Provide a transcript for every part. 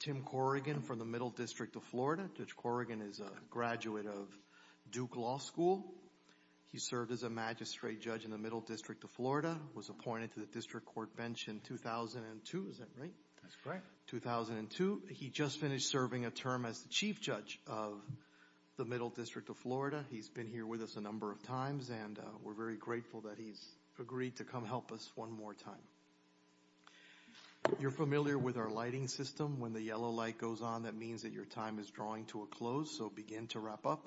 Tim Corrigan from the Middle District of Florida. Judge Corrigan is a graduate of Duke Law School. He served as a magistrate judge in the Middle District of Florida, was appointed to the district court bench in 2002. Is that right? That's correct. 2002. He just finished serving a term as the chief judge of the Middle District of Florida. He's been here with us a number of times and we're very grateful that he's agreed to come help us one more time. You're familiar with our lighting system. When the yellow light goes on, that means that your time is drawing to a close. So begin to wrap up.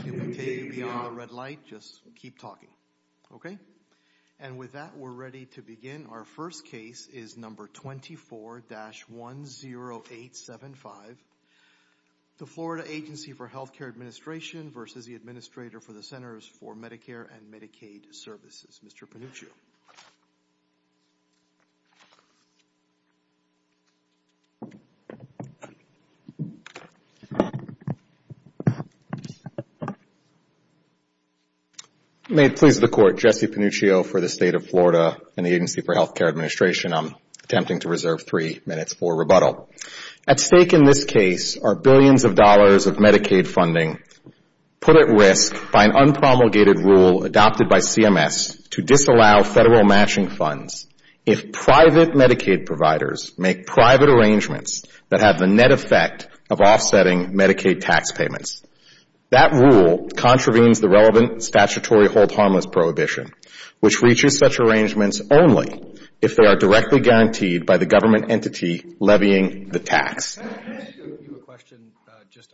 If we take you beyond the red light, just keep talking. Okay? And with that, we're ready to begin. Our first case is number 24-10875. The Florida Agency for Health Care Administration versus the Administrator for the Centers for Medicare & Medicaid Services, Mr. Panuccio. May it please the Court, Jesse Panuccio for the State of Florida and the Agency for Health Care Administration. I'm attempting to reserve three minutes for rebuttal. At stake in this case are billions of dollars of Medicaid funding put at risk by an unpromulgated rule adopted by CMS to disallow federal matching funds if private Medicaid providers make private arrangements that have the net effect of offsetting Medicaid tax payments. That rule contravenes the relevant statutory hold harmless prohibition, which reaches such arrangements only if they are directly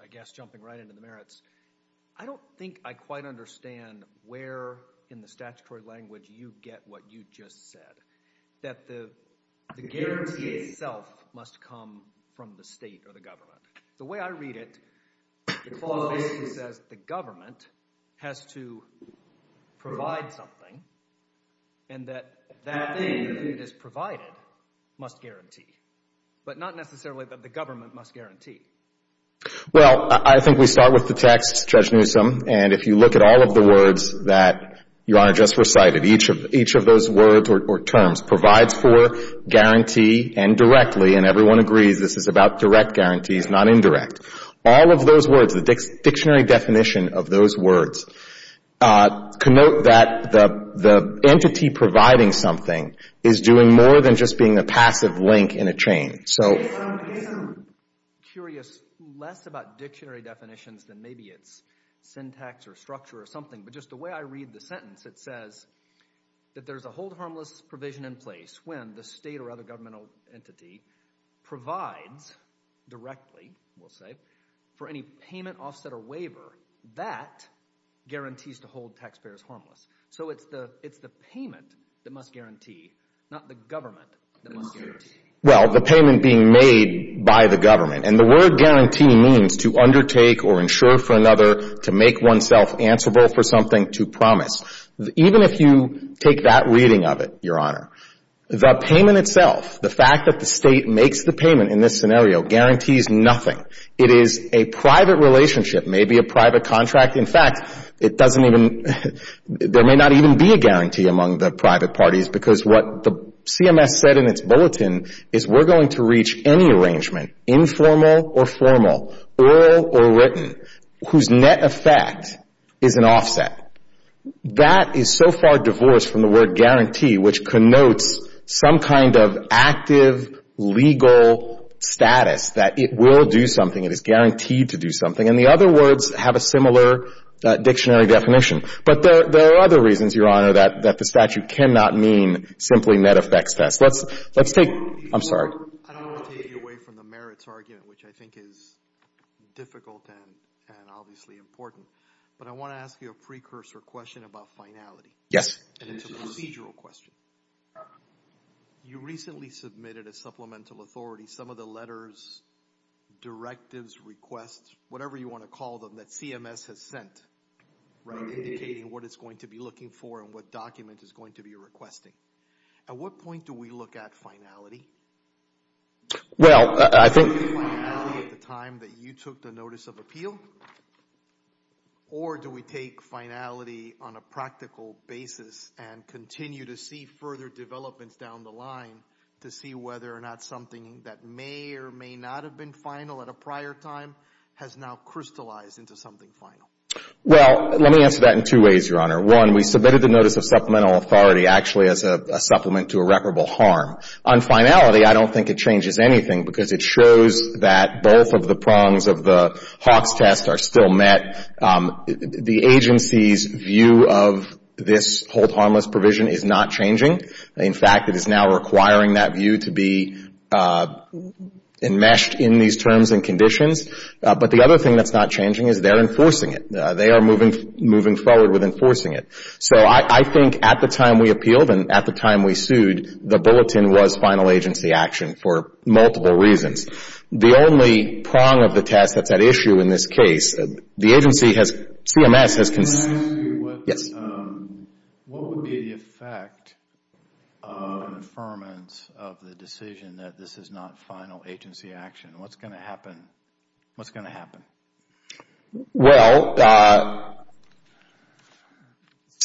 I guess jumping right into the merits. I don't think I quite understand where in the statutory language you get what you just said, that the guarantee itself must come from the state or the government. The way I read it, the clause basically says the government has to provide something and that that thing that is provided must guarantee. But not necessarily that the Well, I think we start with the text, Judge Newsom, and if you look at all of the words that Your Honor just recited, each of those words or terms, provides for, guarantee, and directly, and everyone agrees this is about direct guarantees, not indirect. All of those words, the dictionary definition of those words, connote that the entity providing something is doing more than just being a passive link in a chain. So I guess I'm curious less about dictionary definitions than maybe its syntax or structure or something, but just the way I read the sentence, it says that there's a hold harmless provision in place when the state or other governmental entity provides directly, we'll say, for any payment, offset, or waiver that guarantees to hold taxpayers harmless. So it's the payment that must guarantee, not the government that must guarantee. Well, the payment being made by the government. And the word guarantee means to undertake or insure for another, to make oneself answerable for something, to promise. Even if you take that reading of it, Your Honor, the payment itself, the fact that the state makes the payment in this scenario guarantees nothing. It is a private relationship, maybe a private contract. In fact, it doesn't even, there may not even be a guarantee among the private parties because what the CMS said in its bulletin is we're going to reach any arrangement, informal or formal, oral or written, whose net effect is an offset. That is so far divorced from the word guarantee, which connotes some kind of active legal status that it will do something, it is guaranteed to do something. And the other words have a similar dictionary definition. But there are other reasons, Your Honor, that the statute cannot mean simply net effects. Let's take, I'm sorry. I don't want to take you away from the merits argument, which I think is difficult and obviously important. But I want to ask you a precursor question about finality. Yes. And it's a procedural question. You recently submitted a supplemental authority. Some of the procedures, directives, requests, whatever you want to call them that CMS has sent, right, indicating what it's going to be looking for and what document it's going to be requesting. At what point do we look at finality? Well, I think Do we look at finality at the time that you took the notice of appeal? Or do we take finality on a practical basis and continue to see further developments down the line to see whether or not something that may or may not have been final at a prior time has now crystallized into something final? Well, let me answer that in two ways, Your Honor. One, we submitted the notice of supplemental authority actually as a supplement to irreparable harm. On finality, I don't think it changes anything because it shows that both of the prongs of the Hawks test are still met. The agency's view of this hold harmless provision is not changing. In fact, it is now requiring that view to be enmeshed in these terms and conditions. But the other thing that's not changing is they're enforcing it. They are moving forward with enforcing it. So I think at the time we appealed and at the time we sued, the bulletin was final agency action for multiple reasons. The only prong of the test that's at issue in this case, the agency has, CMS has What would be the effect of the decision that this is not final agency action? What's going to happen? What's going to happen? Well,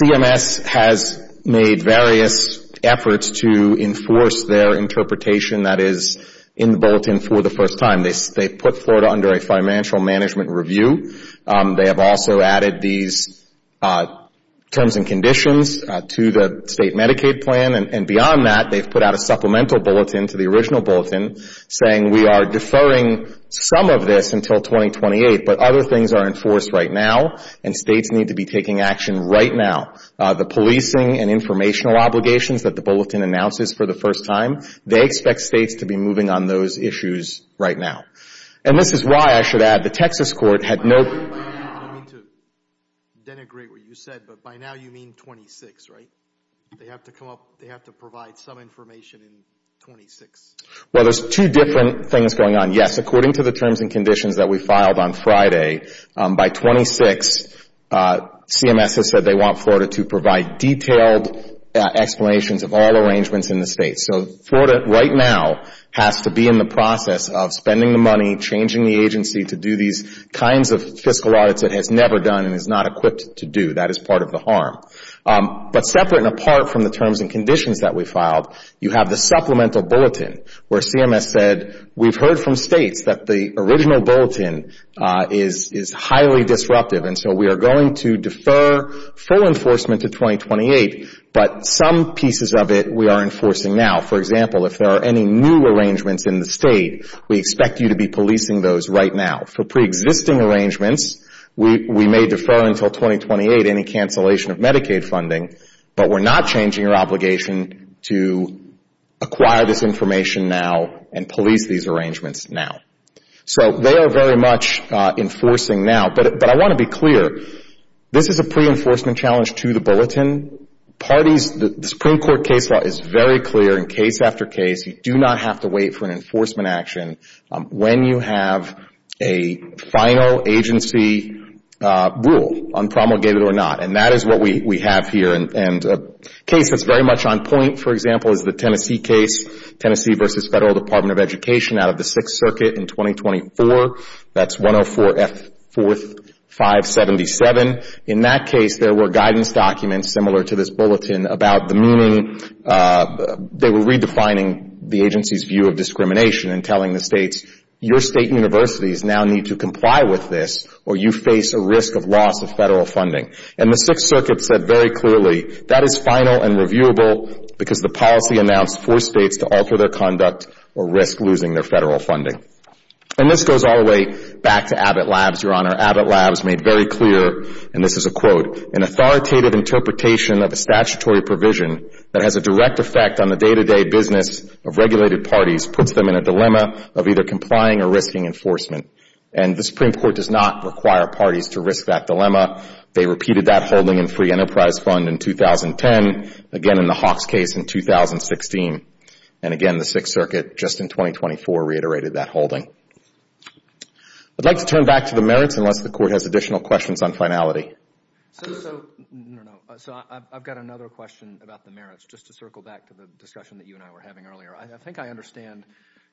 CMS has made various efforts to enforce their interpretation that is in the bulletin for the first time. They put Florida under a financial management review. They have also added these terms and conditions to the state Medicaid plan. And beyond that, they've put out a supplemental bulletin to the original bulletin saying we are deferring some of this until 2028, but other things are enforced right now and states need to be taking action right now. The policing and informational obligations that the bulletin announces for the first time, they expect states to be moving on those issues right now. And this is why I should add the Texas court had no I didn't agree with what you said, but by now you mean 26, right? They have to come up, they have to provide some information in 26. Well, there's two different things going on. Yes, according to the terms and conditions that we filed on Friday, by 26, CMS has said they want Florida to provide detailed explanations of all arrangements in the state. So Florida right now has to be in the process of spending the money, changing the agency to do these kinds of fiscal audits it has never done and is not equipped to do. That is part of the harm. But separate and apart from the terms and conditions that we filed, you have the supplemental bulletin where CMS said we've heard from states that the original bulletin is highly disruptive and so we are going to defer full enforcement to 2028, but some pieces of it we are enforcing now. For example, if there are any new arrangements in the state, we expect you to be policing those right now. For pre-existing arrangements, we may defer until 2028 any cancellation of Medicaid funding, but we are not changing our obligation to acquire this information now and police these arrangements now. So they are very much enforcing now, but I want to be clear, this is a pre-enforcement challenge to the bulletin. The Supreme Court case law is very clear in case after case, you do not have to wait for an enforcement action when you have a final agency rule, unpromulgated or not, and that is what we have here. And a case that is very much on point, for example, is the Tennessee case, Tennessee v. Federal Department of Education out of the Sixth Circuit in 2024, that is 104F4577. In that case, there were guidance documents similar to this bulletin about the meaning, but they were redefining the agency's view of discrimination and telling the states, your state universities now need to comply with this or you face a risk of loss of federal funding. And the Sixth Circuit said very clearly, that is final and reviewable because the policy announced forced states to alter their conduct or risk losing their federal funding. And this goes all the way back to Abbott Labs, Your Honor. Abbott Labs made very clear, and this is a quote, an authoritative interpretation of a statutory provision that has a direct effect on the day-to-day business of regulated parties, puts them in a dilemma of either complying or risking enforcement. And the Supreme Court does not require parties to risk that dilemma. They repeated that holding in free enterprise fund in 2010, again in the Hawks case in 2016. And again, the Sixth Circuit just in 2024 reiterated that holding. I'd like to turn back to the merits unless the Court has additional questions on finality. So I've got another question about the merits just to circle back to the discussion that you and I were having earlier. I think I understand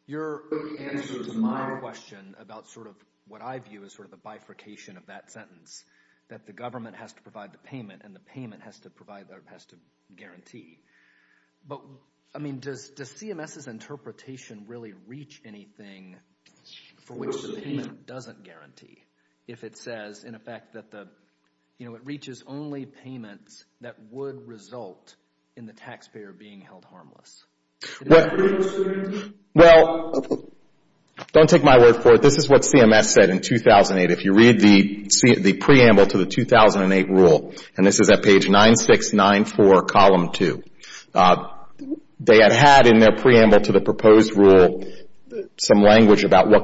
your answer to my question about sort of what I view as sort of the bifurcation of that sentence, that the government has to provide the payment and the payment has to guarantee. But I mean, does CMS's interpretation really reach anything for which the payment doesn't guarantee if it says in effect that the, you know, it reaches only payments that would result in the taxpayer being held harmless? Well, don't take my word for it. This is what CMS said in 2008. If you read the preamble to the 2008 rule, and this is at page 9694, column 2, they had had in their what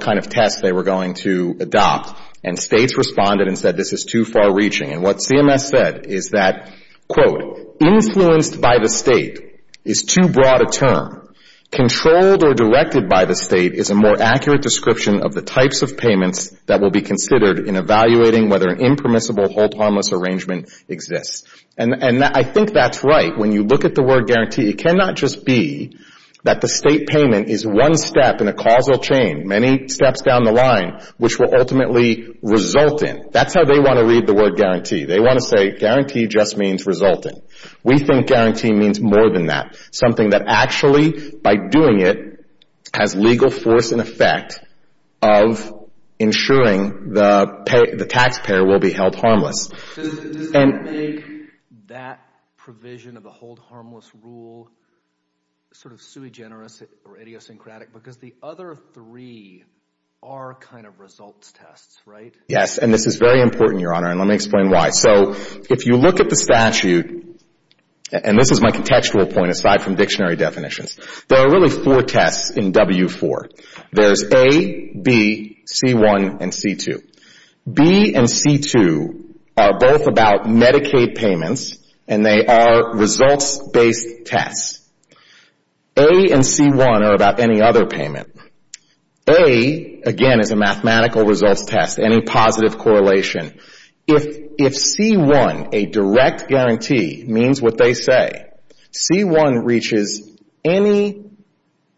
kind of tests they were going to adopt. And states responded and said this is too far reaching. And what CMS said is that, quote, influenced by the state is too broad a term. Controlled or directed by the state is a more accurate description of the types of payments that will be considered in evaluating whether an impermissible hold harmless arrangement exists. And I think that's right. When you look at the word guarantee, it cannot just be that the state payment is one step in a causal chain, many steps down the line, which will ultimately result in. That's how they want to read the word guarantee. They want to say guarantee just means result in. We think guarantee means more than that. Something that actually, by doing it, has legal force and effect of ensuring the taxpayer will be held harmless. Does that make that provision of the hold harmless rule sort of sui generis or idiosyncratic? Because the other three are kind of results tests, right? Yes. And this is very important, Your Honor. And let me explain why. So if you look at the statute, and this is my contextual point, aside from dictionary definitions, there are really four tests in W-4. There's A, B, C-1, and C-2. B and C-2 are both about Medicaid payments, and they are results-based tests. A and C-1 are about any other payment. A, again, is a mathematical results test, any positive correlation. If C-1, a direct guarantee, means what they say, C-1 reaches any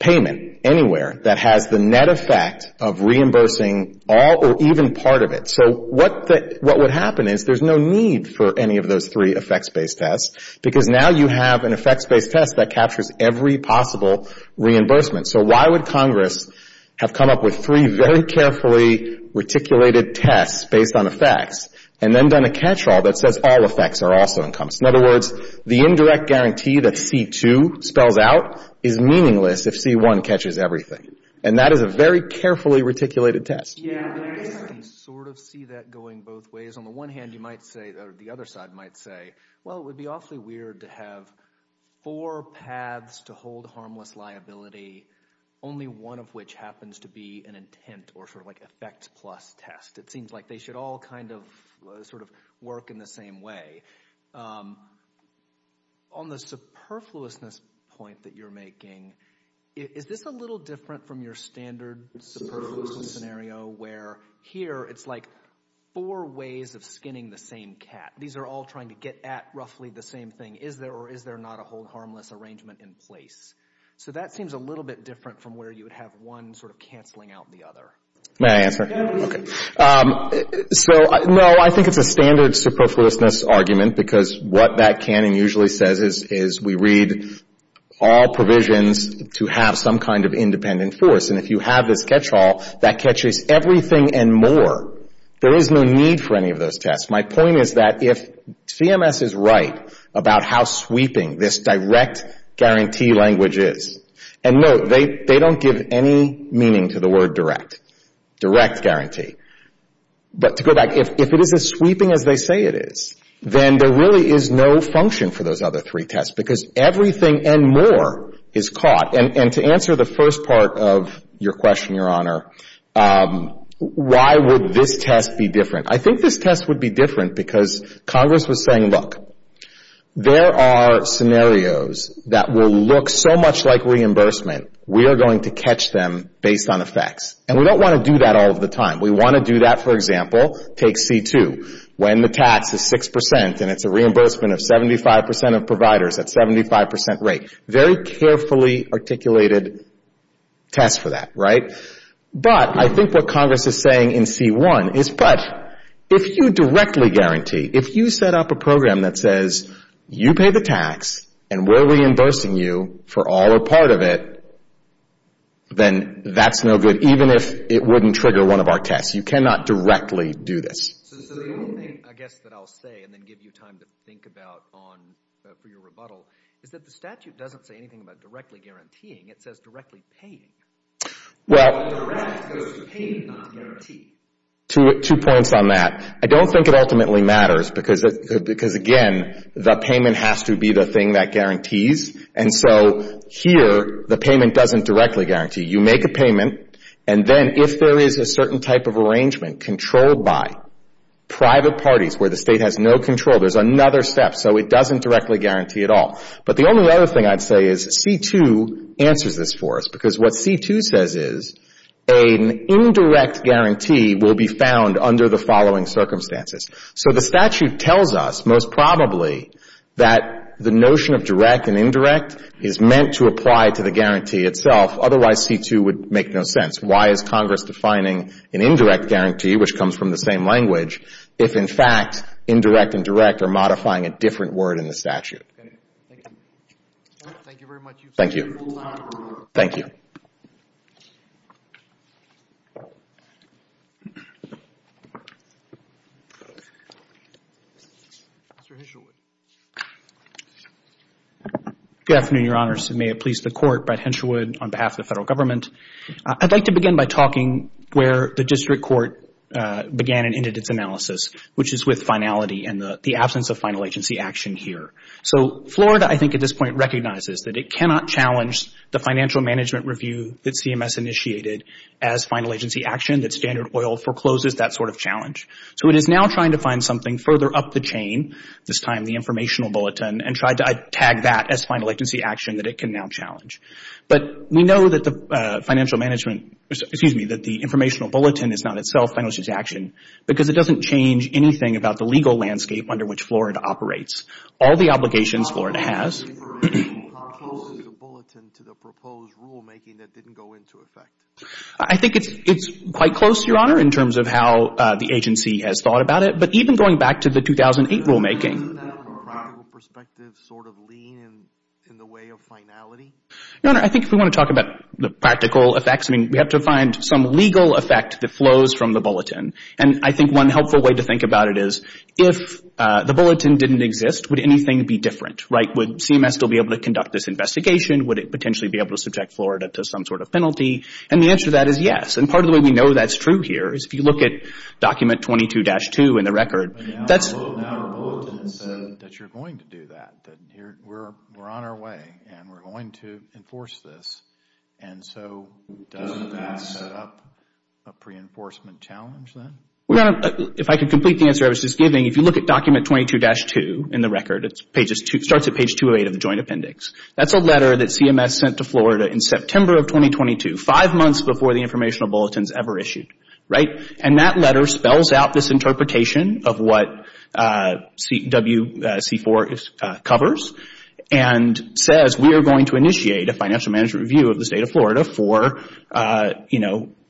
payment anywhere that has the net effect of reimbursing all or even part of it. So what would happen is there's no need for any of those three effects-based tests, because now you have an effects-based test that captures every possible reimbursement. So why would Congress have come up with three very carefully reticulated tests based on effects and then done a catch-all that says all effects are also In other words, the indirect guarantee that C-2 spells out is meaningless if C-1 catches everything. And that is a very carefully reticulated test. Yeah, I sort of see that going both ways. On the one hand, you might say, or the other side might say, well, it would be awfully weird to have four paths to hold harmless liability, only one of which happens to be an intent or sort of like effect plus test. It seems like they all kind of sort of work in the same way. On the superfluousness point that you're making, is this a little different from your standard superfluous scenario where here it's like four ways of skinning the same cat? These are all trying to get at roughly the same thing. Is there or is there not a hold harmless arrangement in place? So that seems a little bit different from where you would have one sort of canceling out the other. May I answer? Yeah, please. Okay. So, no, I think it's a standard superfluousness argument because what that canon usually says is we read all provisions to have some kind of independent force. And if you have this catch-all that catches everything and more, there is no need for any of those tests. My point is that if CMS is right about how sweeping this direct guarantee language is, and no, they don't give any meaning to the word direct, direct guarantee. But to go back, if it is as sweeping as they say it is, then there really is no function for those other three tests because everything and more is caught. And to answer the first part of your question, Your Honor, why would this test be different? I think this test would be different because Congress was saying, look, there are scenarios that will look so much like reimbursement, we are going to catch them based on effects. And we don't want to do that all of the time. We want to do that, for example, take C2, when the tax is 6% and it's a reimbursement of 75% of providers at 75% rate. Very carefully articulated test for that, right? But I think what Congress is saying in C1 is, but if you directly guarantee, if you set up a program that says you pay the tax and we're reimbursing you for all or part of it, then that's no good, even if it wouldn't trigger one of our tests. You cannot directly do this. So the only thing, I guess, that I'll say and then give you time to think about for your rebuttal is that the statute doesn't say anything about directly guaranteeing. It says directly paying. Well, two points on that. I don't think it ultimately matters because, again, the payment has to be the thing that guarantees. And so here, the payment doesn't directly guarantee. You make a payment and then if there is a certain type of arrangement controlled by private parties where the state has no control, there's another step. So it doesn't directly guarantee at all. But the only other thing I'd say is C2 answers this for us because what C2 says is an indirect guarantee will be found under the following circumstances. So the statute tells us, most probably, that the notion of direct and indirect is meant to apply to the guarantee itself. Otherwise, C2 would make no sense. Why is Congress defining an indirect guarantee, which comes from the same language, if, in fact, indirect and direct are modifying a different word in the statute? Thank you very much. Thank you. Thank you. Mr. Henshawood. Good afternoon, Your Honors. May it please the Court, Brett Henshawood on behalf of the Federal Government. I'd like to begin by talking where the District Court began and ended its analysis, which is with finality and the absence of final agency action here. So Florida, I think, at this point recognizes that it cannot challenge the financial management review that CMS initiated as final agency action, that Standard Oil forecloses that sort of challenge. So it is now trying to find something further up the chain, this time the informational bulletin, and try to tag that as final agency action that it can now challenge. But we know that the financial management, excuse me, that the informational bulletin is not itself final agency action because it doesn't change anything about the legal landscape under which Florida operates. All the obligations Florida has... How close is the bulletin to the proposed rulemaking that didn't go into effect? I think it's quite close, Your Honor, in terms of how the agency has thought about it. But even going back to the 2008 rulemaking... Doesn't that, from a practical perspective, sort of lean in the way of finality? Your Honor, I think if we want to talk about the practical effects, I mean, we have to find some legal effect that flows from the bulletin. And I think one helpful way to think about it is if the bulletin didn't exist, would anything be different, right? Would CMS still be able to conduct this investigation? Would it potentially be able to subject Florida to some sort of penalty? And the answer to that is yes. And part of the way we know that's true here is if you look at document 22-2 in the record, that's... But now our bulletin says that you're going to do that, that we're on our way and we're going to enforce this. And so does that set up a pre-enforcement challenge then? If I could complete the answer I was just giving, if you look at document 22-2 in the record, it starts at page 208 of the Joint Appendix. That's a letter that CMS sent to Florida in September of 2022, five months before the informational bulletins ever issued, right? And that letter spells out this interpretation of what WC4 covers and says we are going to initiate a financial management review of the State of Florida for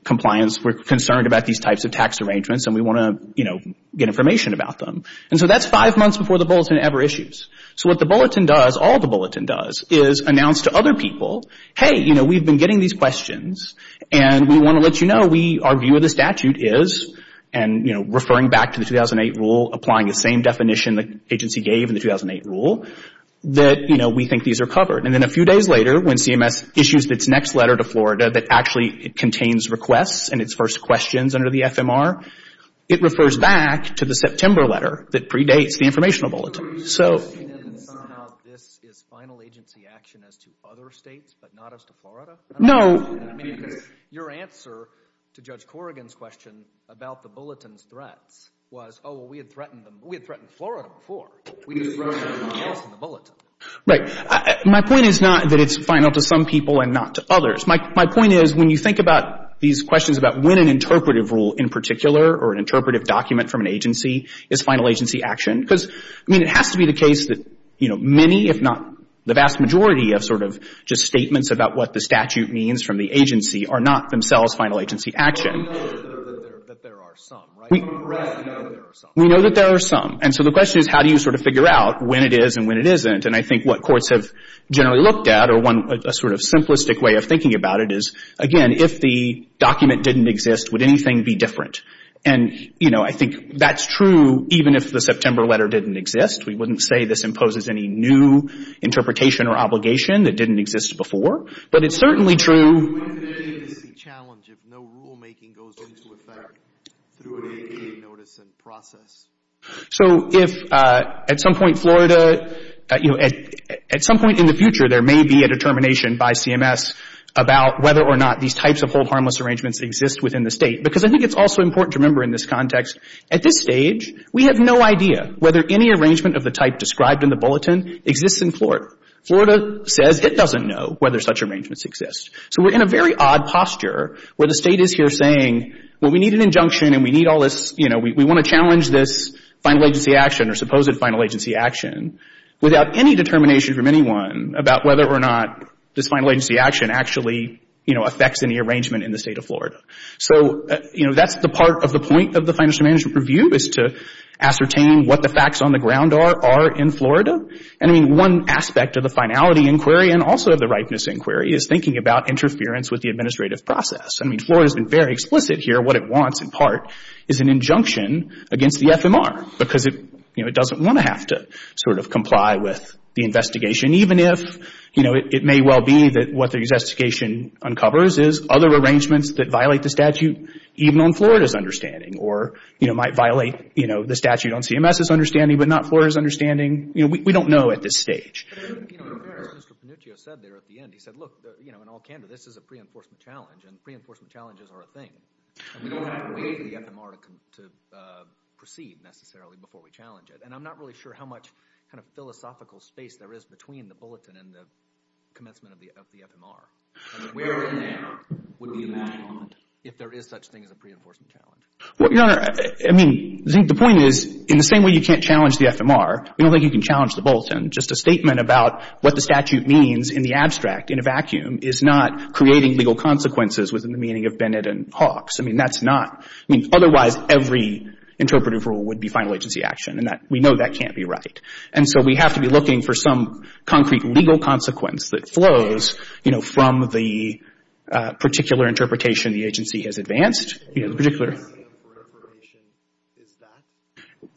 compliance. We're concerned about these types of tax arrangements and we want to, you know, get information about them. And so that's five months before the bulletin ever issues. So what the bulletin does, all the bulletin does, is announce to other people, hey, you know, we've been getting these questions and we want to let you know our view of the statute is, and, you know, referring back to the 2008 rule, applying the same definition the agency gave in the 2008 rule, that, you know, we think these are covered. And then a few days later when CMS issues its next letter to Florida that actually contains requests and its first questions under the FMR, it refers back to the September letter that predates the informational bulletin. So... Were you suggesting that somehow this is final agency action as to other states but not as to No. Your answer to Judge Corrigan's question about the bulletin's threats was, oh, well, we had threatened them. We had threatened Florida before. We didn't threaten anyone else in the bulletin. Right. My point is not that it's final to some people and not to others. My point is when you these questions about when an interpretive rule in particular or an interpretive document from an agency is final agency action, because, I mean, it has to be the case that, you know, many, if not the vast majority, of sort of just statements about what the statute means from the agency are not themselves final agency action. We know that there are some, right? We know that there are some. And so the question is how do you sort of figure out when it is and when it isn't? And I think what courts have generally looked at or a sort of simplistic way of thinking about it is, again, if the document didn't exist, would anything be different? And, you know, I think that's true even if the September letter didn't exist. We wouldn't say this imposes any new interpretation or obligation that didn't exist before. But it's certainly true What is the challenge if no rulemaking goes into effect through an ADA notice and process? So if at some point Florida, you know, at some point in the future there may be a determination by CMS about whether or not these types of hold harmless arrangements exist within the state, because I think it's also important to remember in this context, at this stage we have no idea whether any arrangement of the type described in the bulletin exists in Florida. Florida says it doesn't know whether such arrangements exist. So we're in a very odd posture where the state is here saying, well, we need an injunction and we need all this, you know, we want to challenge this final agency action or supposed final agency action without any determination from anyone about whether or not this final agency action actually, you know, affects any arrangement in the state of Florida. So, you know, that's the part of the point of the Financial Management Review is to ascertain what the facts on the ground are in Florida. And I mean, one aspect of the finality inquiry and also of the ripeness inquiry is thinking about interference with the administrative process. I mean, Florida's been very explicit here. What it wants in part is an injunction against the FMR because it, you know, it doesn't want to have to sort of comply with the investigation even if, you know, it may well be that what the investigation uncovers is other arrangements that violate the statute even on Florida's understanding or, you know, might violate, you know, the statute on CMS's understanding but not Florida's understanding. You know, we don't know at this stage. But I think, you know, as Mr. Panuccio said there at the end, he said, look, you know, in all candor, this is a pre-enforcement challenge and pre-enforcement challenges are a thing. And we don't have to wait for the FMR to proceed necessarily before we challenge it. And I'm not really sure how much kind of philosophical space there is between the bulletin and the commencement of the FMR. I mean, where in there would we imagine if there is such thing as a pre-enforcement challenge? Well, Your Honor, I mean, the point is, in the same way you can't challenge the FMR, we don't think you can challenge the bulletin. Just a statement about what the statute means in the abstract in a vacuum is not creating legal consequences within the meaning of Bennett and Hawks. I mean, that's not. I mean, otherwise, every interpretive rule would be final agency action. And we know that can't be right. And so, we have to be looking for some concrete legal consequence that flows, you know, from the particular interpretation the agency has advanced, you know, the particular...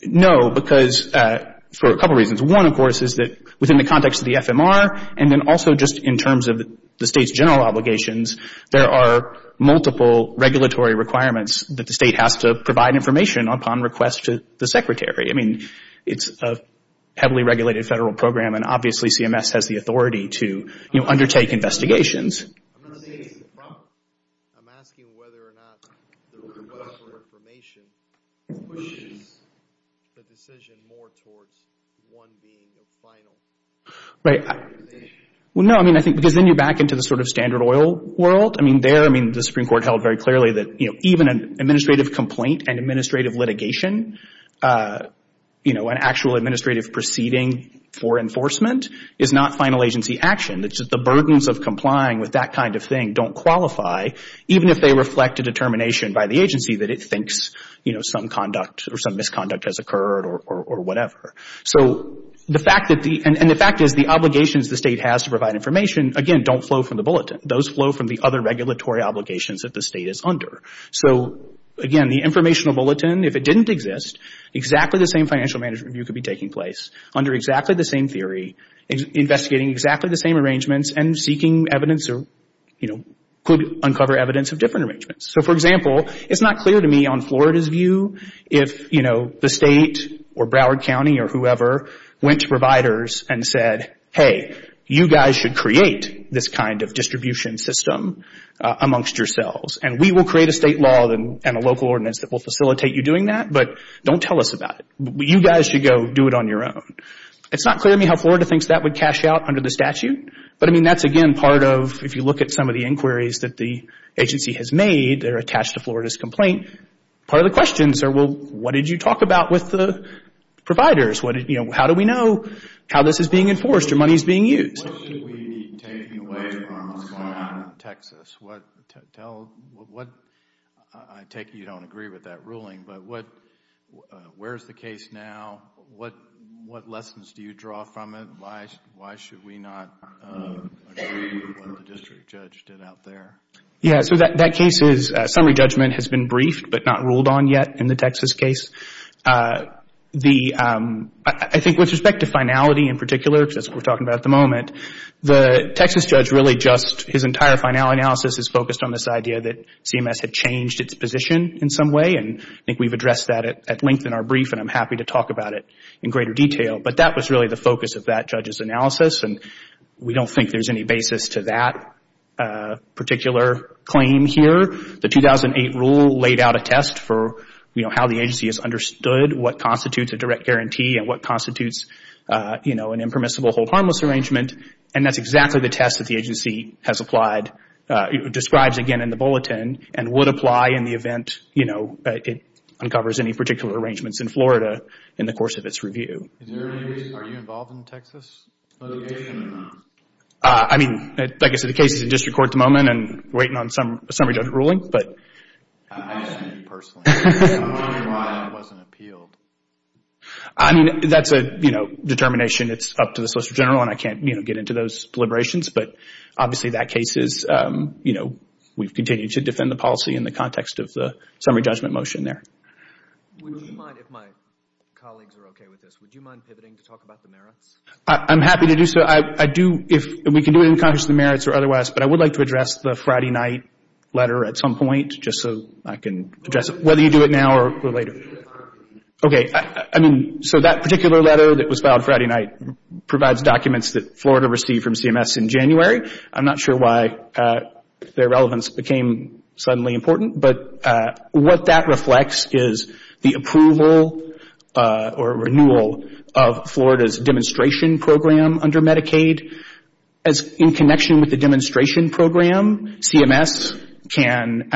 No, because for a couple of reasons. One, of course, is that within the context of the FMR and then also just in terms of the State's general obligations, there are multiple regulatory requirements that the State has to provide information upon request to the Secretary. I mean, it's a heavily regulated federal program and obviously CMS has the authority to, you know, undertake investigations. I'm not saying it's improper. I'm asking whether or not the request for information pushes the decision more towards one being a final... Right. Well, no, I mean, I think because then you're back into the sort of standard oil world. I mean, there, I mean, the Supreme Court held very clearly that, you know, even an administrative complaint and administrative litigation, you know, an actual administrative proceeding for enforcement is not final agency action. It's just the burdens of complying with that kind of thing don't qualify, even if they reflect a determination by the agency that it thinks, you know, some conduct or some misconduct has occurred or whatever. So, the fact that the... And the fact is the obligations the State has to provide information, again, don't flow from the bulletin. Those flow from the other regulatory obligations that the State is under. So, again, the informational bulletin, if it didn't exist, exactly the same financial management review could be taking place under exactly the same theory, investigating exactly the same arrangements and seeking evidence or, you know, could uncover evidence of different arrangements. So, for example, it's not clear to me on Florida's view if, you know, the State or Broward County or whoever went to providers and said, hey, you guys should create this kind of distribution system amongst yourselves. And we will create a State law and a local ordinance that will facilitate you doing that, but don't tell us about it. You guys should go do it on your own. It's not clear to me how Florida thinks that would cash out under the statute, but, I mean, that's, again, part of, if you look at some of the inquiries that the agency has made that are attached to Florida's complaint, part of the questions are, well, what did you talk about with the providers? You know, how do we know how this is being enforced or money is being used? What should we be taking away from what's going on in Texas? What, tell, what, I take it you don't agree with that ruling, but what, where is the case now? What, what lessons do you draw from it? Why, why should we not agree with what the district judge did out there? Yeah, so that case is, summary judgment has been briefed but not ruled on yet in the Texas case. The, I think with respect to finality in particular, because that's what we're talking about at the moment, the Texas judge really just, his entire final analysis is focused on this idea that CMS had changed its position in some way and I think we've addressed that at length in our brief and I'm happy to talk about it in greater detail, but that was really the focus of that judge's analysis and we don't think there's any basis to that particular claim here. The 2008 rule laid out a test for, you know, how the agency has understood what constitutes a direct guarantee and what constitutes, you know, an impermissible hold harmless arrangement and that's exactly the test that the agency has applied, describes again in the bulletin and would apply in the event, you know, it uncovers any particular arrangements in Florida in the course of its review. Is there any reason, are you involved in Texas litigation? I mean, like I said, the case is in district court at the moment and waiting on some, a summary judgment ruling, but. I just mean personally. I'm wondering why it wasn't appealed. I mean, that's a, you know, determination. It's up to the Solicitor General and I can't, you know, get into those deliberations, but obviously that case is, you know, we've continued to defend the policy in the context of the summary judgment motion there. Would you mind, if my colleagues are okay with this, would you mind pivoting to talk about the merits? I'm happy to do so. I do, if we can do it in the context of the merits or otherwise, but I would like to address the Friday night letter at some point, just so I can address it, whether you do it now or later. Okay. I mean, so that particular letter that was filed Friday night provides documents that Florida received from CMS in January. I'm not sure why their relevance became suddenly important, but what that reflects is the approval or renewal of Florida's demonstration program under Medicaid, as in connection with the demonstration program, CMS can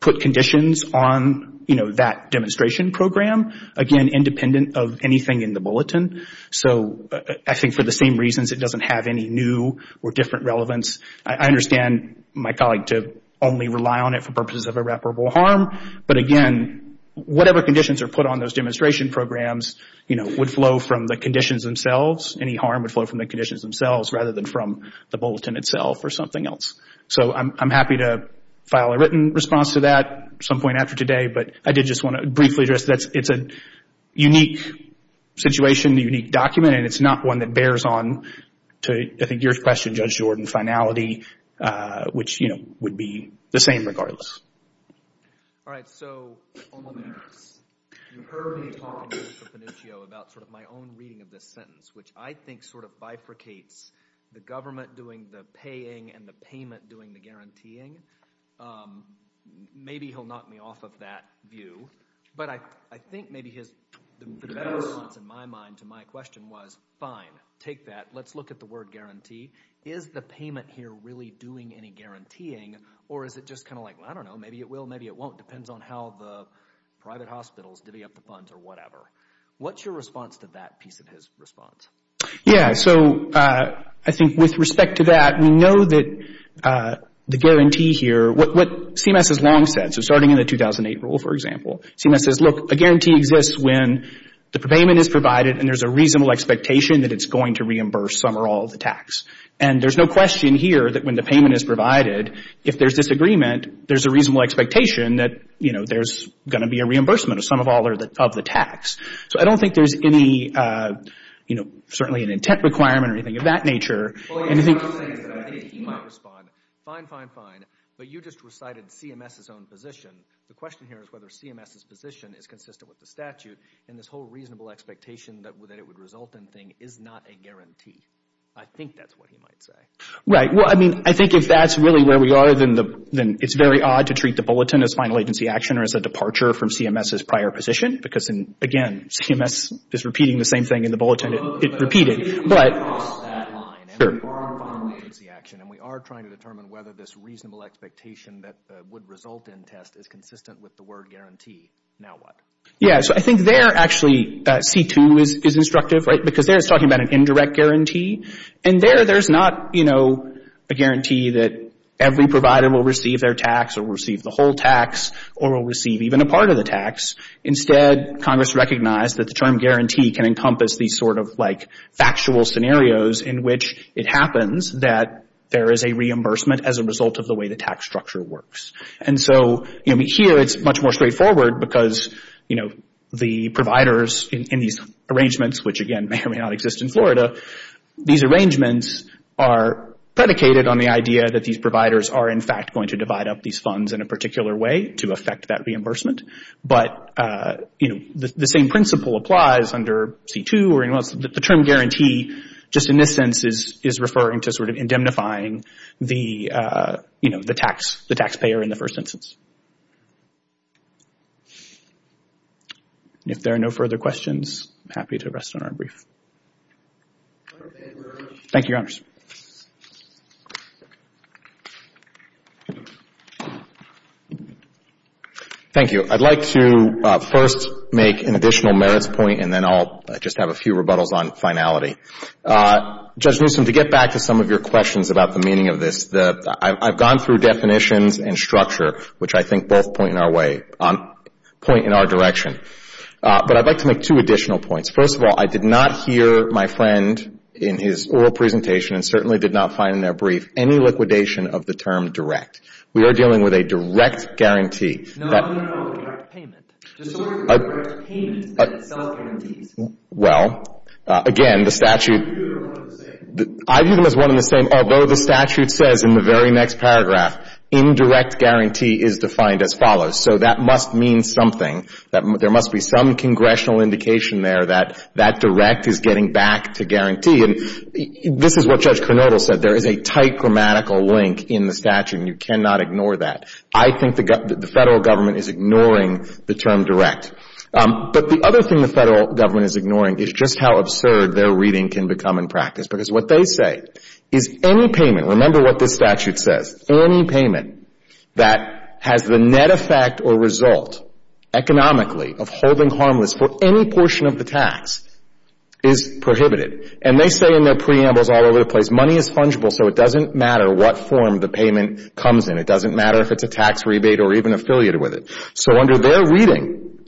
put conditions on, you know, that demonstration program, again, independent of anything in the bulletin. So, I think for the same reasons, it doesn't have any new or different relevance. I understand my colleague to only rely on it for purposes of irreparable harm, but again, whatever conditions are put on those demonstration programs, you know, would flow from the conditions themselves. Any harm would flow from the conditions themselves rather than from the bulletin itself or something else. So, I'm happy to file a written response to that at some point after today, but I did just want to briefly address that. It's a unique situation, a unique document, and it's not one that bears on to, I think, your question, Judge Jordan, finality, which, you know, would be the same regardless. All right. So, on the merits, you heard me talk to Melissa Panuccio about sort of my own reading of this sentence, which I think sort of bifurcates the government doing the paying and the payment doing the guaranteeing. Maybe he'll knock me off of that view, but I think maybe the better response in my mind to my question was, fine, take that. Let's look at the word guarantee. Is the payment here really doing any guaranteeing, or is it just kind of like, I don't know, maybe it will, maybe it won't. Depends on how the private hospitals divvy up the funds or whatever. What's your response to that piece of his response? Yeah, so I think with respect to that, we know that the guarantee here, what CMS has long said, so starting in the 2008 rule, for example, CMS says, look, a guarantee exists when the payment is provided and there's a reasonable expectation that it's going to reimburse some or all of the tax. And there's no question here that when the payment is provided, if there's disagreement, there's a reasonable expectation that, you know, there's going to be a reimbursement of some or all of the tax. So I don't think there's any, you know, certainly an intent requirement or anything of that nature. Well, he might respond, fine, fine, fine, but you just recited CMS's own position. The question here is whether CMS's position is consistent with the statute and this whole reasonable expectation that it would result in thing is not a guarantee. I think that's what he might say. Right. Well, I mean, I think if that's really where we are, then it's very odd to treat the position because, again, CMS is repeating the same thing in the bulletin it repeated, but... But if we cross that line and we borrow from the agency action and we are trying to determine whether this reasonable expectation that would result in test is consistent with the word guarantee, now what? Yeah. So I think there actually C-2 is instructive, right, because there it's talking about an indirect guarantee. And there there's not, you know, a guarantee that every provider will receive their tax or will receive the whole tax or will receive even a part of the tax. Instead, Congress recognized that the term guarantee can encompass these sort of like factual scenarios in which it happens that there is a reimbursement as a result of the way the tax structure works. And so, you know, here it's much more straightforward because, you know, the providers in these arrangements, which again may or may not exist in Florida, these arrangements are predicated on the idea that these providers are, in fact, going to divide up these funds in a particular way to affect that reimbursement. But, you know, the same principle applies under C-2 or anyone else. The term guarantee, just in this sense, is referring to sort of indemnifying the, you know, the tax, the taxpayer in the first instance. If there are no further questions, I'm happy to rest on our brief. Thank you, Your Honors. Thank you. I'd like to first make an additional merits point and then I'll just have a few rebuttals on finality. Judge Newsom, to get back to some of your questions about the meaning of this, I've gone through definitions and structure, which I think both point in our way, point in our direction. But I'd like to make two additional points. First of all, I did not hear my friend in his oral presentation and certainly did not find in their brief any liquidation of the term direct. We are dealing with a direct guarantee. No, no, no, direct payment. Just sort of direct payment that itself guarantees. Well, again, the statute. I view them as one and the same. Although the statute says in the very next paragraph, indirect guarantee is defined as follows. So that must mean something. There must be some congressional indication there that that direct is getting back to guarantee. And this is what Judge Kornodal said. There is a tight grammatical link in the statute and you cannot ignore that. I think the Federal Government is ignoring the term direct. But the other thing the Federal Government is ignoring is just how absurd their reading can become in practice. Because what they say is any payment, remember what this statute says, any payment that has the net effect or result economically of holding harmless for any portion of the tax is prohibited. And they say in their preambles all over the place, money is fungible so it doesn't matter what form the payment comes in. It doesn't matter if it's a tax rebate or even affiliated with it. So under their reading,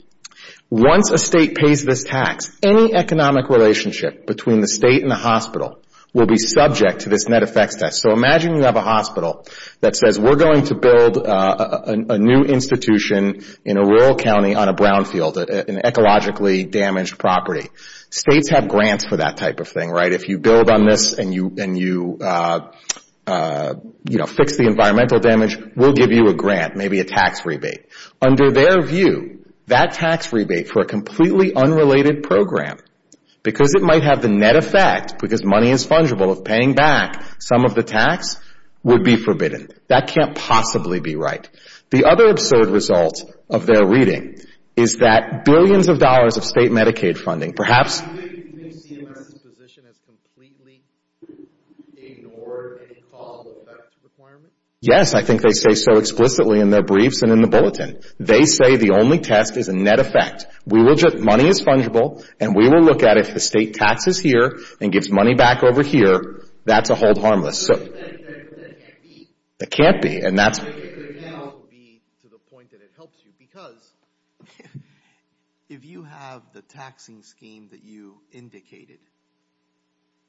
once a state pays this tax, any economic relationship between the state and the hospital will be subject to this net effects test. So imagine you have a hospital that says we are going to build a new institution in a rural county on a brownfield, an ecologically damaged property. States have grants for that type of thing, right? If you build on this and you fix the environmental damage, we will give you a grant, maybe a tax rebate. Under their view, that tax rebate for a completely unrelated program, because it might have the net effect, because money is fungible of paying back some of the tax, would be forbidden. That can't possibly be right. The other absurd result of their reading is that billions of dollars of state Medicaid funding, perhaps... Do you think CMS's position has completely ignored any causal effect requirement? Yes, I think they say so explicitly in their briefs and in the bulletin. They say the only test is a net effect. We will just, money is fungible and we will look at if the state taxes here and gives money back over here, that's a hold harmless. So that can't be. It can't be and that's... To the point that it helps you, because if you have the taxing scheme that you indicated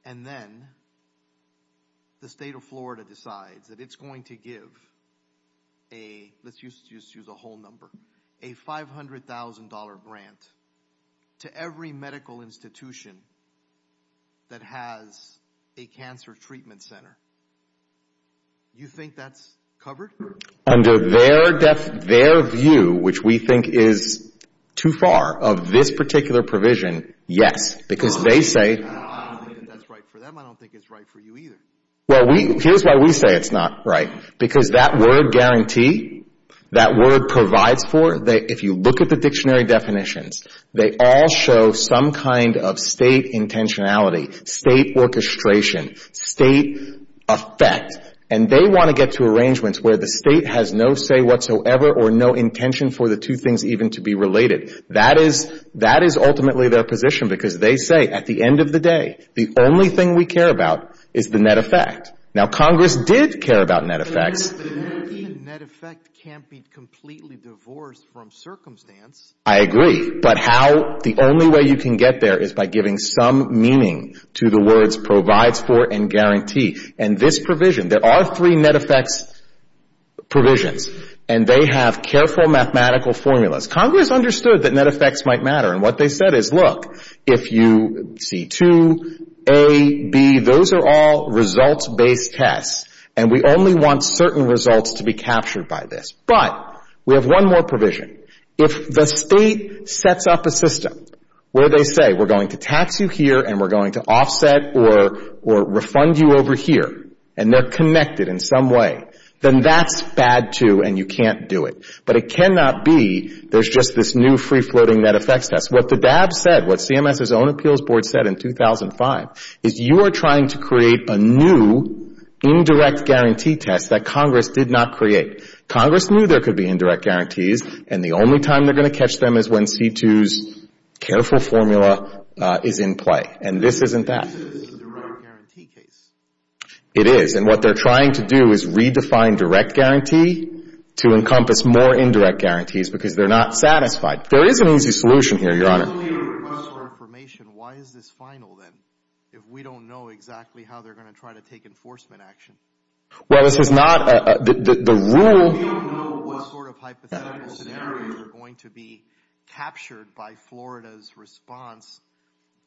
and then the state of Florida decides that it's going to give a, let's just use a whole number, a $500,000 grant to every medical institution that has a cancer treatment center, you think that's covered? Under their view, which we think is too far of this particular provision, yes, because they say... I don't think that's right for them. I don't think it's right for you either. Well, here's why we say it's not right, because that word guarantee, that word provides for, if you look at the dictionary definitions, they all show some kind of state intentionality, state orchestration, state effect. And they want to get to arrangements where the state has no say whatsoever or no intention for the two things even to be related. That is ultimately their position because they say at the end of the day, the only thing we care about is the net effect. Now, Congress did care about net effects. The net effect can't be completely divorced from circumstance. I agree. But the only way you can get there is by giving some meaning to the words provides for and guarantee. And this provision, there are three net effects provisions, and they have careful mathematical formulas. Congress understood that net effects might matter, and what they said is, look, if you see two, A, B, those are all results-based tests, and we only want certain results to be captured by this. But we have one more provision. If the state sets up a system where they say, we're going to tax you here and we're going to offset or refund you over here, and they're connected in some way, then that's bad, too, and you can't do it. But it cannot be there's just this new free-floating net effects test. What the DAB said, what CMS's own appeals board said in 2005, is you are trying to create a new indirect guarantee test that Congress did not create. Congress knew there could be indirect guarantees, and the only time they're going to catch them is when C-2's careful formula is in play. And this isn't that. This is a direct guarantee case. It is. And what they're trying to do is redefine direct guarantee to encompass more indirect guarantees because they're not satisfied. There is an easy solution here, Your Honor. If we don't know exactly how they're going to try to take enforcement action. Well, this is not the rule. We don't know what sort of hypothetical scenarios are going to be captured by Florida's response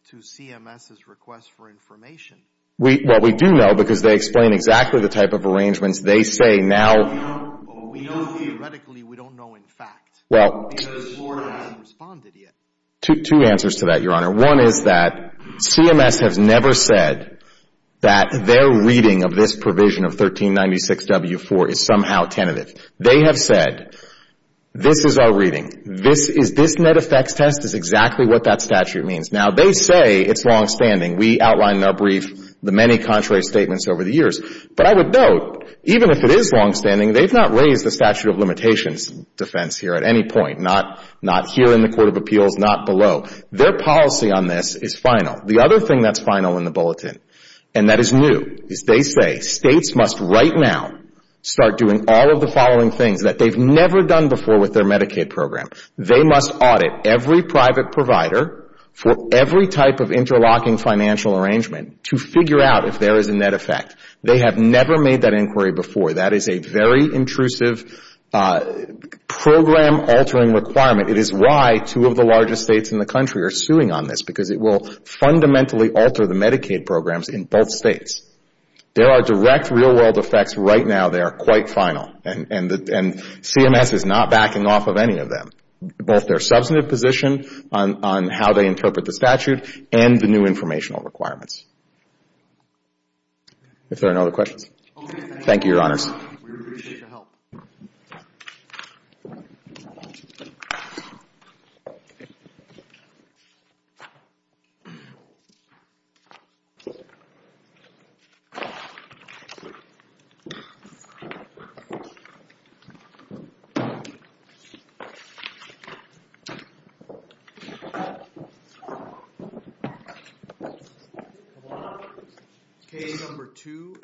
to CMS's request for information. We, well, we do know because they explain exactly the type of arrangements they say now. Well, we know theoretically. We don't know in fact because Florida hasn't responded yet. Two answers to that, Your Honor. One is that CMS has never said that their reading of this provision of 1396W4 is somehow tentative. They have said, this is our reading. This net effects test is exactly what that statute means. Now, they say it's longstanding. We outlined in our brief the many contrary statements over the years. But I would note, even if it is longstanding, they've not raised the statute of limitations defense here at any point. Not here in the Court of Appeals. Not below. Their policy on this is final. The other thing that's final in the bulletin, and that is new, is they say states must right now start doing all of the following things that they've never done before with their Medicaid program. They must audit every private provider for every type of interlocking financial arrangement to figure out if there is a net effect. They have never made that inquiry before. That is a very intrusive program altering requirement. It is why two of the largest states in the country are suing on this. Because it will fundamentally alter the Medicaid programs in both states. There are direct real world effects right now that are quite final. And CMS is not backing off of any of them. Both their substantive position on how they interpret the statute and the new informational requirements. If there are no other questions. Thank you, your honors. We appreciate the help. Case number two.